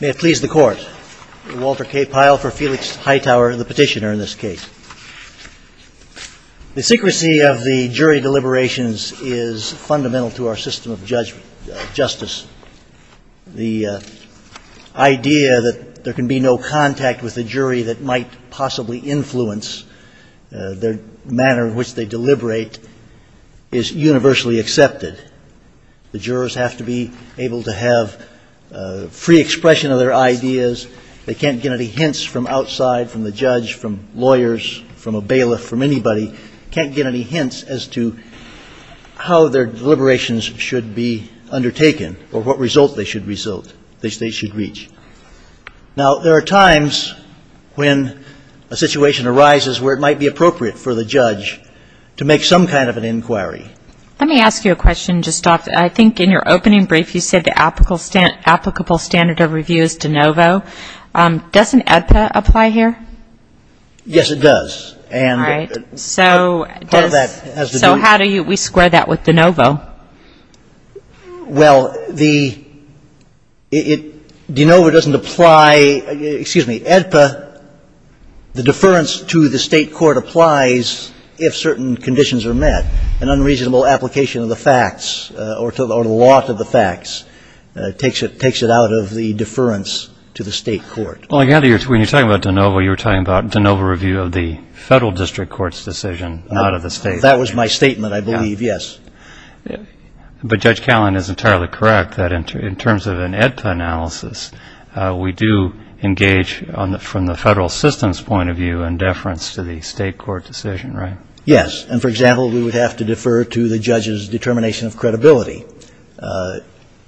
May it please the Court, Walter K. Pyle for Felix Hightower, the petitioner in this case. The secrecy of the jury deliberations is fundamental to our system of justice. The idea that there is universally accepted. The jurors have to be able to have free expression of their ideas. They can't get any hints from outside, from the judge, from lawyers, from a bailiff, from anybody, can't get any hints as to how their deliberations should be undertaken or what result they should reach. Now there are times when a situation arises where it might be Let me ask you a question, just off, I think in your opening brief you said the applicable standard of review is de novo. Doesn't AEDPA apply here? Yes, it does. All right. So how do we square that with de novo? Well, de novo doesn't apply, excuse me, AEDPA, the deference to the state court applies if certain conditions are met. An unreasonable application of the facts or the lot of the facts takes it out of the deference to the state court. Well, I gather when you're talking about de novo, you're talking about de novo review of the federal district court's decision, not of the state. That was my statement, I believe, yes. But Judge Callan is entirely correct that in terms of an AEDPA analysis, we do engage from the federal system's point of view in deference to the state court decision, right? Yes. And for example, we would have to defer to the judge's determination of credibility.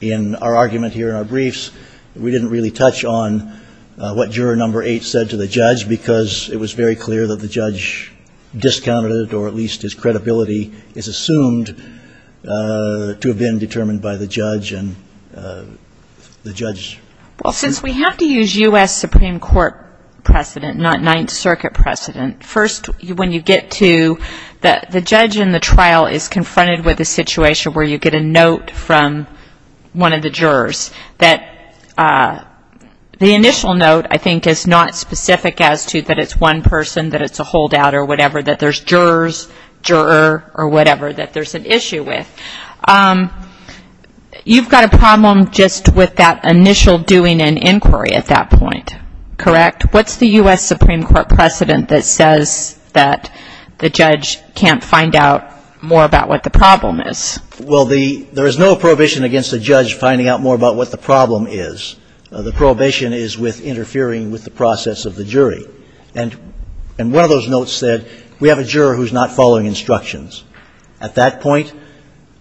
In our argument here in our briefs, we didn't really touch on what juror number eight said to the judge because it was very clear that the judge discounted or at least his credibility is assumed to have been determined by the judge and the judge's We use U.S. Supreme Court precedent, not Ninth Circuit precedent. First, when you get to the judge in the trial is confronted with a situation where you get a note from one of the jurors that the initial note, I think, is not specific as to that it's one person, that it's a holdout or whatever, that there's jurors, juror or whatever that there's an issue with. You've got a problem just with that initial doing and inquiry at that point, correct? What's the U.S. Supreme Court precedent that says that the judge can't find out more about what the problem is? Well, there is no prohibition against the judge finding out more about what the problem is. The prohibition is with interfering with the process of the jury. And one of those notes said, we have a juror who's not following instructions. At that point,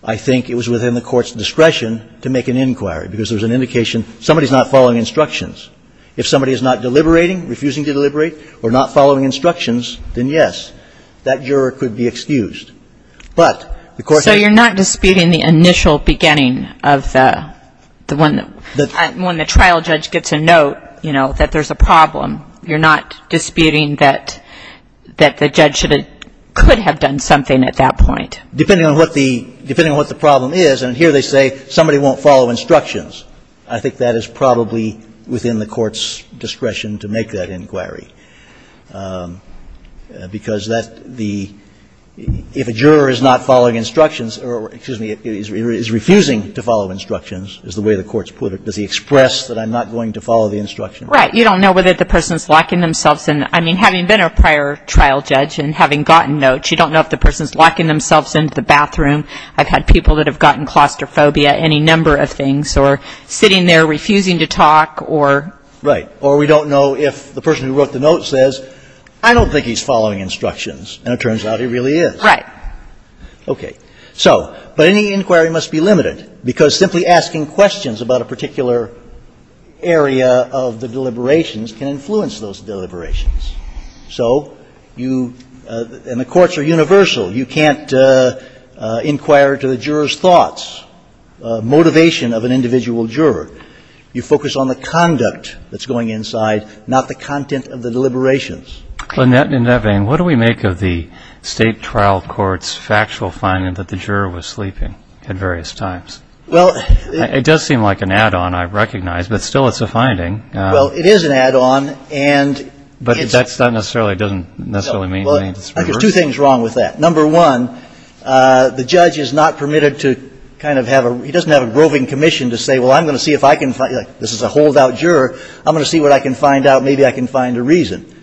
I think it was within the court's discretion to make an inquiry because there was an indication somebody's not following instructions. If somebody is not deliberating, refusing to deliberate, or not following instructions, then yes, that juror could be excused. But the court said So you're not disputing the initial beginning of the one that when the trial judge gets a note, you know, that there's a problem. You're not disputing that the judge could have done something at that point. Depending on what the problem is. And here they say somebody won't follow instructions. I think that is probably within the court's discretion to make that inquiry. Because that's the If a juror is not following instructions or, excuse me, is refusing to follow instructions, is the way the court's put it, does he express that I'm not going to follow the instruction? Right. You don't know whether the person's locking themselves in. I mean, having been a prior trial judge and having gotten notes, you don't know if the person's locking themselves into the bathroom. I've had people that have gotten claustrophobia, any number of things, or sitting there refusing to talk, or Right. Or we don't know if the person who wrote the note says, I don't think he's following instructions. And it turns out he really is. Right. Okay. So, but any inquiry must be limited. Because simply asking questions about a particular area of the deliberations can influence those deliberations. So you, and the courts are universal. You can't inquire to the juror's thoughts, motivation of an individual juror. You focus on the conduct that's going inside, not the content of the deliberations. In that vein, what do we make of the state trial court's factual finding that the juror was sleeping at various times? It does seem like an add-on, I recognize, but still it's a finding. Well, it is an add-on, and But that's not necessarily, doesn't necessarily mean it's reversed? No. Well, I think there's two things wrong with that. Number one, the judge is not permitted to kind of have a, he doesn't have a groving commission to say, well, I'm going to see if I can find, this is a holdout juror, I'm going to see what I can find out, maybe I can find a reason.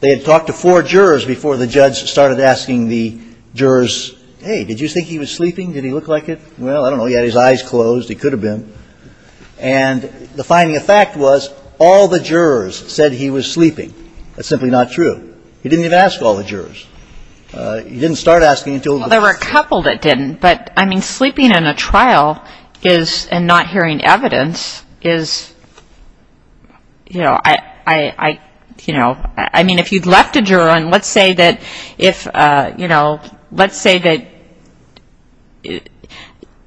They had talked to four jurors before the judge started asking the jurors, hey, did you think he was sleeping? Did he look like it? Well, I don't know. He had his eyes closed. He could have been. And the finding of fact was all the jurors said he was sleeping. That's simply not true. He didn't even ask all the jurors. He didn't start asking until Well, there were a couple that didn't. But, I mean, sleeping in a trial is, and not hearing evidence, is, you know, I mean, if you'd left a juror on, let's say that if, you know, let's say that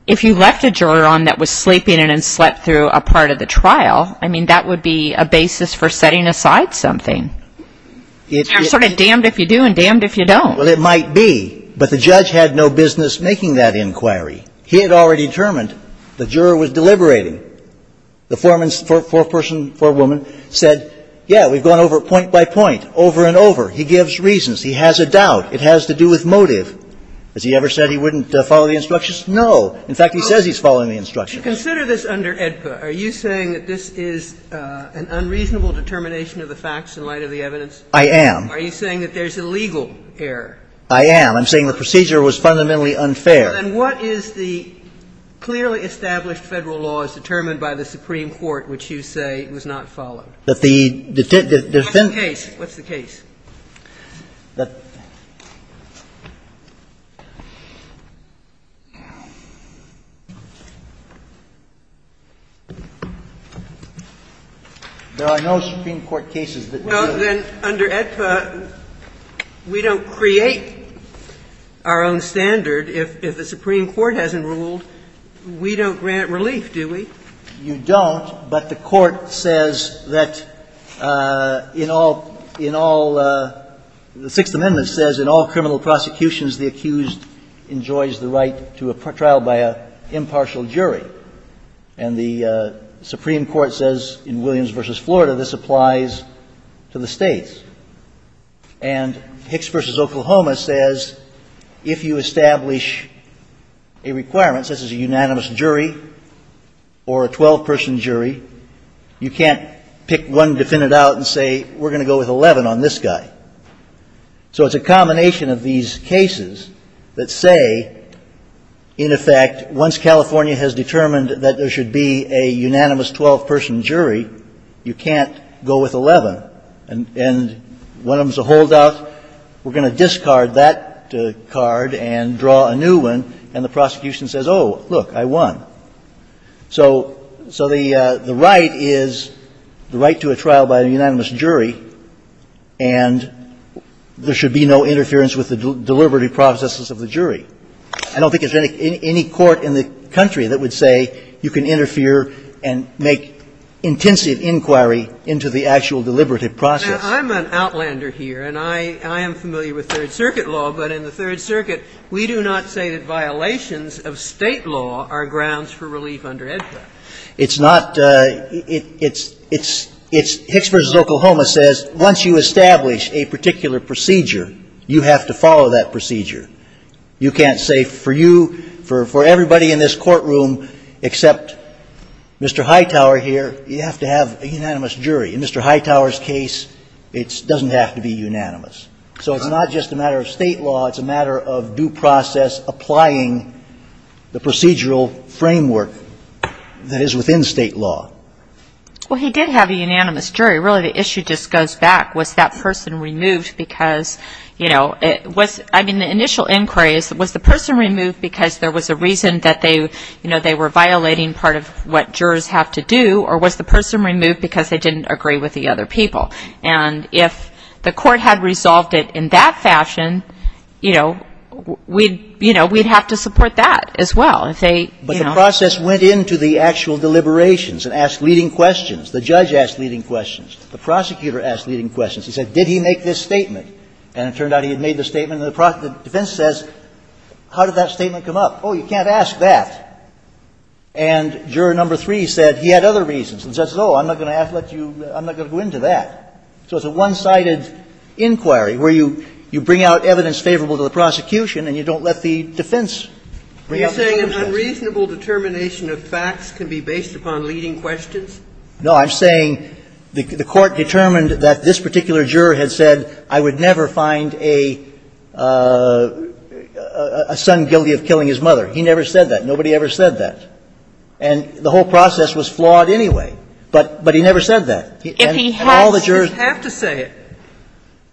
if you left a juror on that was sleeping and then slept through a part of the trial, I mean, that would be a basis for setting aside something. You're sort of damned if you do and damned if you don't. Well, it might be. But the judge had no business making that inquiry. He had already determined the juror was deliberating. The foreman's, foreperson, forewoman said, yeah, we've gone over it point by point, over and over. He gives reasons. He has a doubt. It has to do with motive. Has he ever said he wouldn't follow the instructions? No. In fact, he says he's following the instructions. To consider this under AEDPA, are you saying that this is an unreasonable determination of the facts in light of the evidence? I am. Are you saying that there's a legal error? I am. I'm saying the procedure was fundamentally unfair. Well, then what is the clearly established Federal law as determined by the Supreme Court, which you say was not followed? That the defense of the case. What's the case? Well, then, under AEDPA, we don't create our own standard. If the Supreme Court hasn't ruled, we don't grant relief, do we? You don't, but the Court says that in all the Sixth Amendment says, in all criminal prosecutions, the accused enjoys the right to a trial by an impartial jury. And the Supreme Court says, in Williams v. Florida, this applies to the states. And Hicks v. Oklahoma says, if you establish a requirement, such as a unanimous jury or a 12-person jury, you can't pick one defendant out and say, we're going to go with 11 on this guy. So it's a combination of these cases that say, in effect, once California has determined that there should be a unanimous 12-person jury, you can't go with 11. And one of them is a holdout. We're going to discard that card and draw a new one. And the prosecution says, oh, look, I won. So the right is the right to a trial by a unanimous jury, and there should be no interference with the deliberative processes of the jury. I don't think there's any court in the country that would say you can interfere and make intensive inquiry into the actual deliberative process. Now, I'm an outlander here, and I am familiar with Third Circuit law, but in the Third Circuit, we do not say that violations of State law are grounds for relief under EDPA. It's not – it's – it's – it's – Hicks v. Oklahoma says, once you establish a particular procedure, you have to follow that procedure. You can't say for you – for everybody in this courtroom except Mr. Hightower here, you have to have a unanimous jury. In Mr. Hightower's case, it doesn't have to be unanimous. So it's not just a matter of State law, it's a matter of due process applying the procedural framework that is within State law. Well, he did have a unanimous jury. Really, the issue just goes back, was that person removed because, you know, it was – I mean, the initial inquiry is, was the person removed because there was a reason that they – you know, they were violating part of what jurors have to do, or was the person removed because they didn't agree with the other people? And if the court had resolved it in that fashion, you know, we'd – you know, we'd have to support that as well if they, you know – But the process went into the actual deliberations and asked leading questions. The judge asked leading questions. The prosecutor asked leading questions. He said, did he make this statement? And it turned out he had made the statement, and the defense says, how did that statement come up? Oh, you can't ask that. And juror number three said he had other reasons, and says, oh, I'm not going to have to let you – I'm not going to go into that. So it's a one-sided inquiry where you bring out evidence favorable to the prosecution and you don't let the defense bring up the other questions. Are you saying an unreasonable determination of facts can be based upon leading questions? No, I'm saying the court determined that this particular juror had said, I would never find a son guilty of killing his mother. He never said that. Nobody ever said that. And the whole process was flawed anyway, but he never said that. And all the jurors – If he has, he'd have to say it.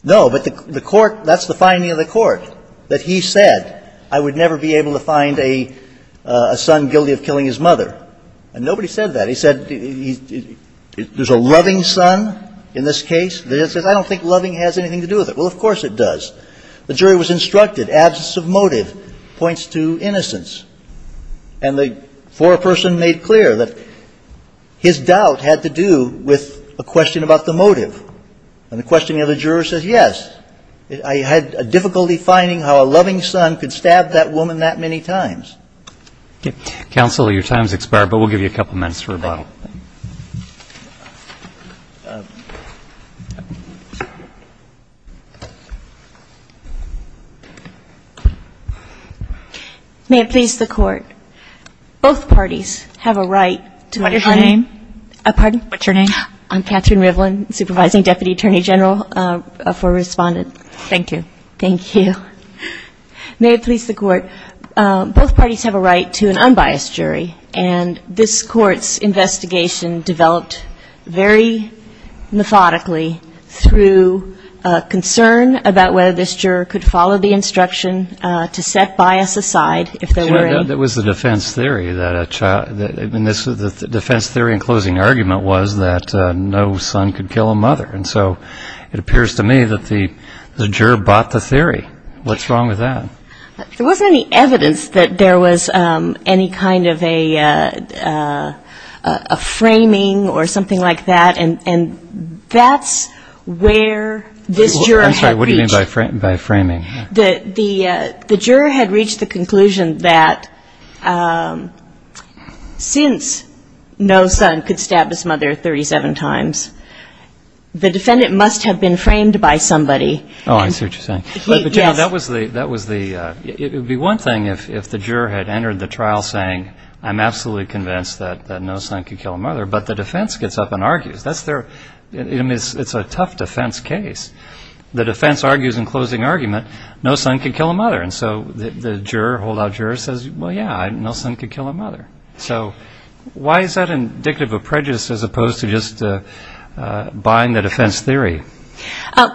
No, but the court – that's the finding of the court, that he said, I would never be able to find a son guilty of killing his mother. And nobody said that. They said, there's a loving son in this case. The judge says, I don't think loving has anything to do with it. Well, of course it does. The jury was instructed, absence of motive points to innocence. And the foreperson made clear that his doubt had to do with a question about the motive. And the question of the juror says, yes, I had difficulty finding how a loving son could stab that woman that many times. Counsel, your time's expired, but we'll give you a couple minutes for rebuttal. May it please the court, both parties have a right to – What is your name? Pardon? What's your name? I'm Catherine Rivlin, Supervising Deputy Attorney General for Respondent. Thank you. Thank you. May it please the court, both parties have a right to an unbiased jury. And this court's investigation developed very methodically through concern about whether this juror could follow the instruction to set bias aside if there were any. It was the defense theory that a child – the defense theory and closing argument was that no son could kill a mother. And so it appears to me that the juror bought the theory. What's wrong with that? There wasn't any evidence that there was any kind of a framing or something like that. And that's where this juror had reached – I'm sorry, what do you mean by framing? The juror had reached the conclusion that since no son could stab his mother 37 times, the defendant must have been framed by somebody. Oh, I see what you're saying. Yes. But you know, that was the – it would be one thing if the juror had entered the trial saying I'm absolutely convinced that no son could kill a mother, but the defense gets up and argues. That's their – I mean, it's a tough defense case. The defense argues in closing argument no son could kill a mother. And so the juror, holdout juror says, well, yeah, no son could kill a mother. So why is that indicative of prejudice as opposed to just buying the defense theory?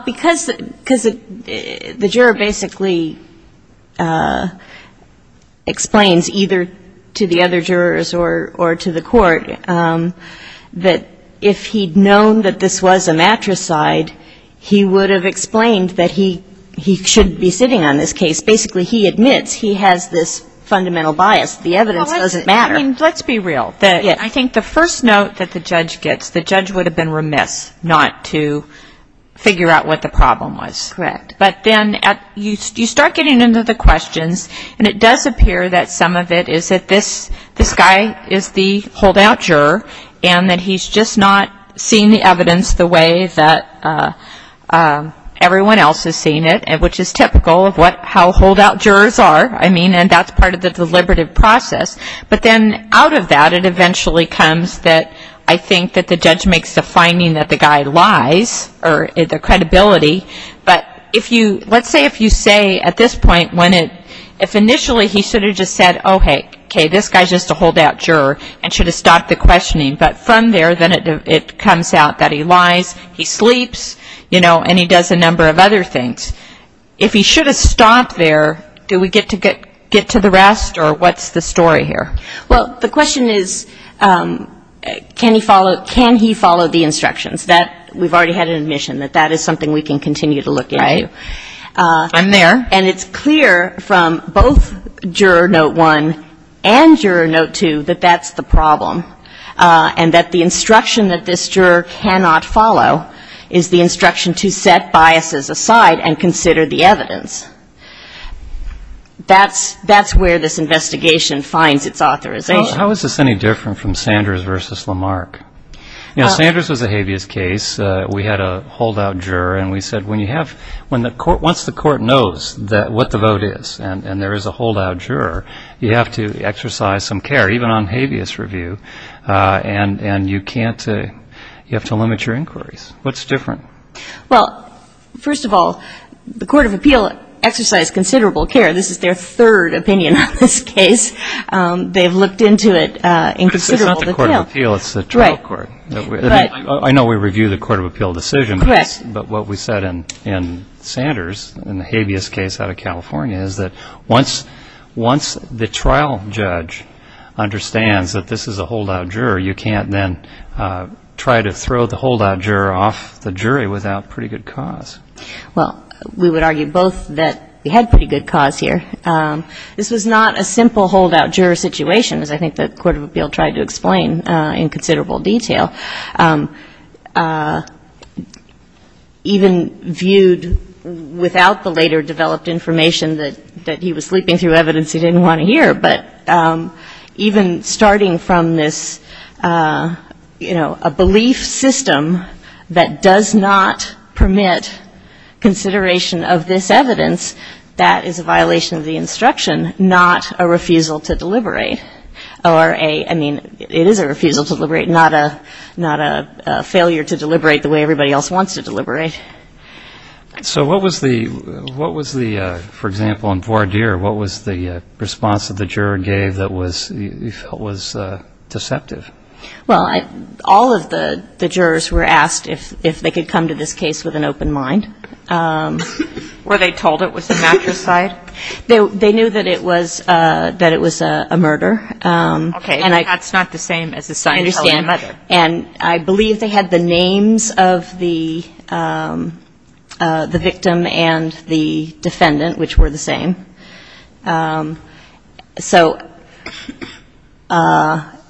Because the juror basically explains either to the other jurors or to the court that if he'd known that this was a matricide, he would have explained that he should be sitting on this case. Basically, he admits he has this fundamental bias. The evidence doesn't matter. Well, let's be real. Yeah. I think the first note that the judge gets, the judge would have been remiss not to figure out what the problem was. Correct. But then at – you start getting into the questions, and it does appear that some of it is that this guy is the holdout juror and that he's just not seeing the evidence the way that everyone else is seeing it, which is typical of what – how holdout jurors are. I mean, and that's part of the deliberative process. But then out of that, it eventually comes that I think that the judge makes the finding that the guy lies or the credibility. But if you – let's say if you say at this point when it – if initially he should have just said, oh, hey, okay, this guy's just a holdout juror and should have stopped the questioning. But from there, then it comes out that he lies, he sleeps, you know, and he does a number of other things. If he should have stopped there, do we get to the rest or what's the story here? Well, the question is, can he follow the instructions? That – we've already had an admission that that is something we can continue to look into. Right. I'm there. And it's clear from both Juror Note 1 and Juror Note 2 that that's the problem and that the instruction that this juror cannot follow is the instruction to set biases aside and consider the evidence. That's where this investigation finds its authorization. How is this any different from Sanders versus Lamarck? You know, Sanders was a habeas case. We had a holdout juror and we said when you have – when the court – once the court knows what the vote is and there is a holdout juror, you have to exercise some care, even on habeas review, and you can't – you have to limit your inquiries. What's different? Well, first of all, the Court of Appeal exercised considerable care. This is their third opinion on this case. They have looked into it and considered all the – But it's not the Court of Appeal. It's the trial court. Right. But – I know we review the Court of Appeal decision. Correct. But what we said in Sanders, in the habeas case out of California, is that once the trial judge understands that this is a holdout juror, you can't then try to throw the holdout juror off the jury without pretty good cause. Well, we would argue both that we had pretty good cause here. This was not a simple holdout juror situation, as I think the Court of Appeal tried to explain in considerable detail. Even viewed without the later developed information that he was sleeping through evidence he didn't that does not permit consideration of this evidence, that is a violation of the instruction, not a refusal to deliberate, or a – I mean, it is a refusal to deliberate, not a failure to deliberate the way everybody else wants to deliberate. So what was the – what was the – for example, in Voir dire, what was the response that the juror gave that was – you felt was deceptive? Well, all of the jurors were asked if they could come to this case with an open mind. Were they told it was a matricide? They knew that it was a murder. Okay. And that's not the same as a sign telling a murder. I understand. And I believe they had the names of the victim and the defendant, which were the same. So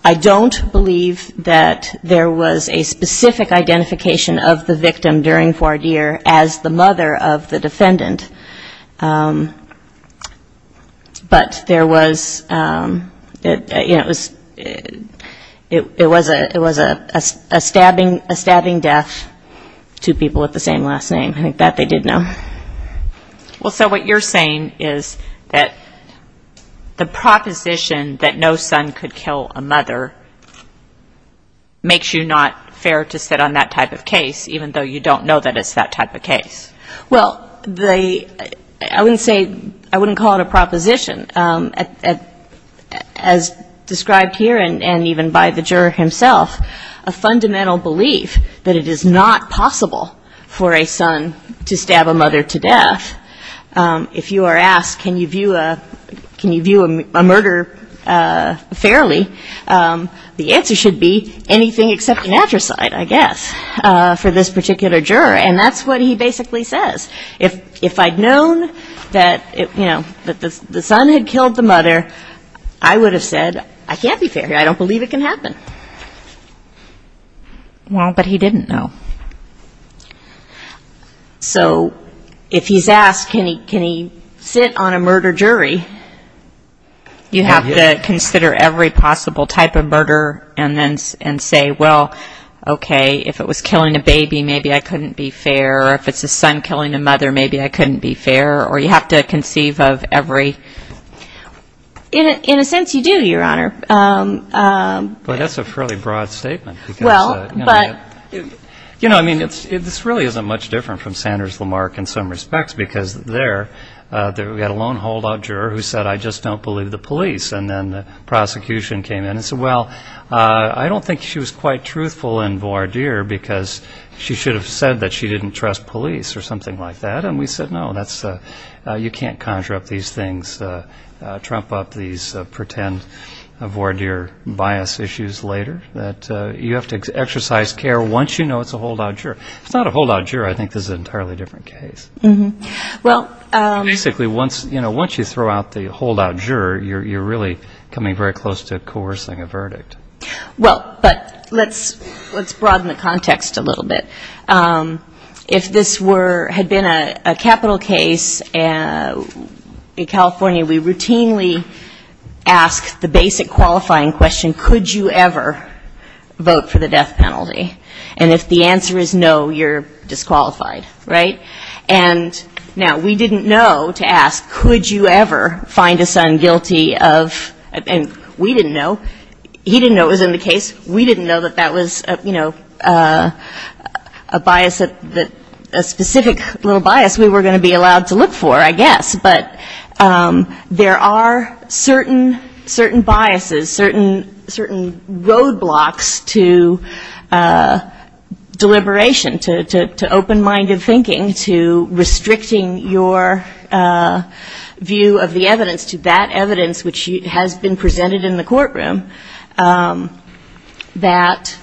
I don't believe that there was a specific identification of the victim during Voir dire as the mother of the defendant, but there was, you know, it was a stabbing death, two people with the same last name. I think that they did know. Well, so what you're saying is that the proposition that no son could kill a mother makes you not fair to sit on that type of case, even though you don't know that it's that type of case. Well, the – I wouldn't say – I wouldn't call it a proposition. As described here, and even by the juror himself, a fundamental belief that it is not possible for a son to stab a mother to death. If you are asked, can you view a murder fairly, the answer should be anything except a matricide, I guess, for this particular juror. And that's what he basically says. If I'd known that, you know, the son had killed the mother, I would have said, I can't be fair here. I don't believe it can happen. Well, but he didn't know. So if he's asked, can he sit on a murder jury, you have to consider every possible type of murder and say, well, okay, if it was killing a baby, maybe I couldn't be fair. If it's a son killing a mother, maybe I couldn't be fair. Or you have to conceive of every – in a sense, you do, Your Honor. But that's a fairly broad statement because, you know, I mean, this really isn't much different from Sanders-Lamarck in some respects because there, we had a lone holdout juror who said, I just don't believe the police. And then the prosecution came in and said, well, I don't think she was quite truthful in voir dire because she should have said that she didn't trust police or something like that. And we said, no, that's – you can't conjure up these things, trump up these pretend voir dire bias issues later, that you have to exercise care once you know it's a holdout juror. It's not a holdout juror. I think this is an entirely different case. But basically, once, you know, once you throw out the holdout juror, you're really coming very close to coercing a verdict. Well, but let's broaden the context a little bit. If this were, had been a capital case in California, we routinely ask the basic qualifying question, could you ever vote for the death penalty? And if the answer is no, you're disqualified, right? And now, we didn't know to ask, could you ever find a son guilty of – and we didn't know. He didn't know it was in the case. We didn't know that that was, you know, a bias that – a specific little bias we were going to be allowed to look for, I guess. But there are certain biases, certain roadblocks to deliberation, to open-minded thinking, to restricting your view of the evidence to that evidence which has been presented in the courtroom that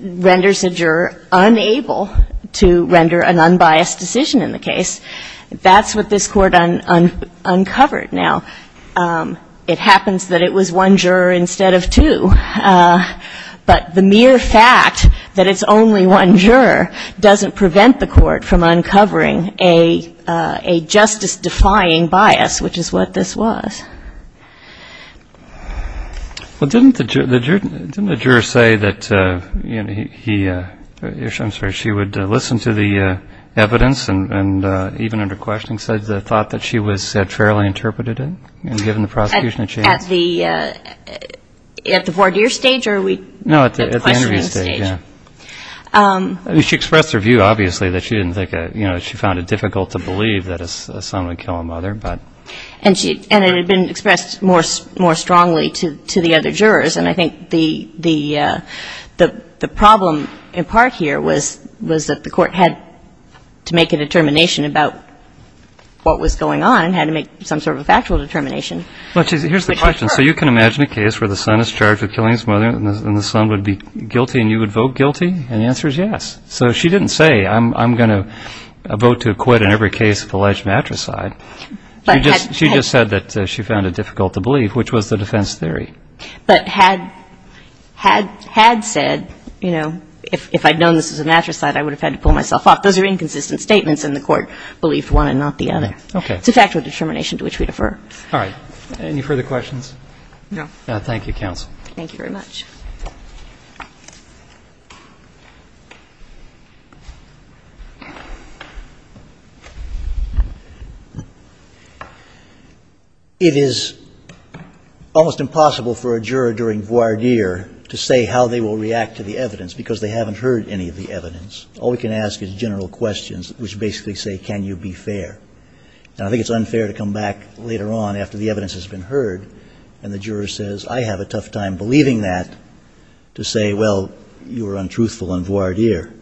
renders a juror unable to render an unbiased decision in the case. That's what this court uncovered. Now, it happens that it was one juror instead of two, but the mere fact that it's only one juror doesn't prevent the court from uncovering a justice-defying bias, which is what this was. Well, didn't the juror say that he – I'm sorry, she would listen to the evidence, and even under questioning, said the thought that she was fairly interpreted in, given the prosecution that she had? At the – at the voir dire stage, or are we – No, at the interview stage. At the questioning stage. Yeah. I mean, she expressed her view, obviously, that she didn't think – you know, she found it difficult to believe that a son would kill a mother, but… And she – and it had been expressed more strongly to the other jurors, and I think the problem in part here was that the court had to make a determination about what was going on and had to make some sort of factual determination. Well, here's the question. So you can imagine a case where the son is charged with killing his mother, and the son would be guilty, and you would vote guilty, and the answer is yes. So she didn't say, I'm going to vote to acquit in every case of alleged matricide. She just – she just said that she found it difficult to believe, which was the defense theory. But had – had – had said, you know, if I'd known this was a matricide, I would have had to pull myself off. Those are inconsistent statements, and the court believed one and not the other. Okay. It's a factual determination to which we defer. All right. Any further questions? No. Thank you, counsel. Thank you very much. It is almost impossible for a juror during voir dire to say how they will react to the evidence, because they haven't heard any of the evidence. All we can ask is general questions, which basically say, can you be fair? And I think it's unfair to come back later on after the evidence has been heard, and the juror says, I have a tough time believing that, to say, well, you were untruthful in voir dire.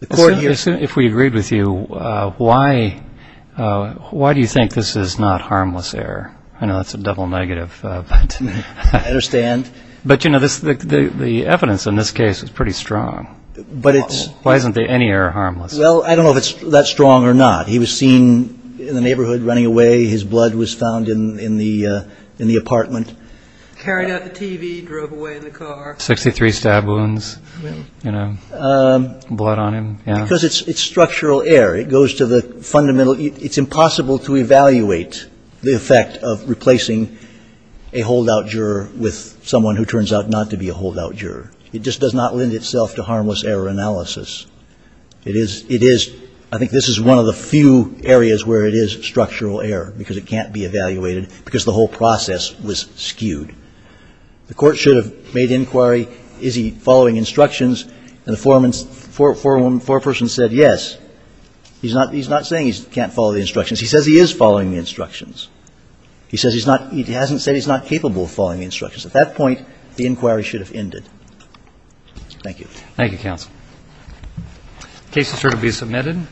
The court here – If we agreed with you, why – why do you think this is not harmless error? I know that's a double negative, but – I understand. But, you know, this – the evidence in this case is pretty strong. But it's – Why isn't there any error harmless? Well, I don't know if it's that strong or not. He was seen in the neighborhood running away. His blood was found in the apartment. Carried out the TV, drove away in the car. Sixty-three stab wounds, you know, blood on him. Yeah. Because it's structural error. It goes to the fundamental – it's impossible to evaluate the effect of replacing a holdout juror with someone who turns out not to be a holdout juror. It just does not lend itself to harmless error analysis. It is – it is – I think this is one of the few areas where it is structural error because it can't be evaluated because the whole process was skewed. The court should have made inquiry, is he following instructions, and the foreman – foreperson said yes. He's not – he's not saying he can't follow the instructions. He says he is following the instructions. He says he's not – he hasn't said he's not capable of following the instructions. At that point, the inquiry should have ended. Thank you. Thank you, counsel. Cases are to be submitted.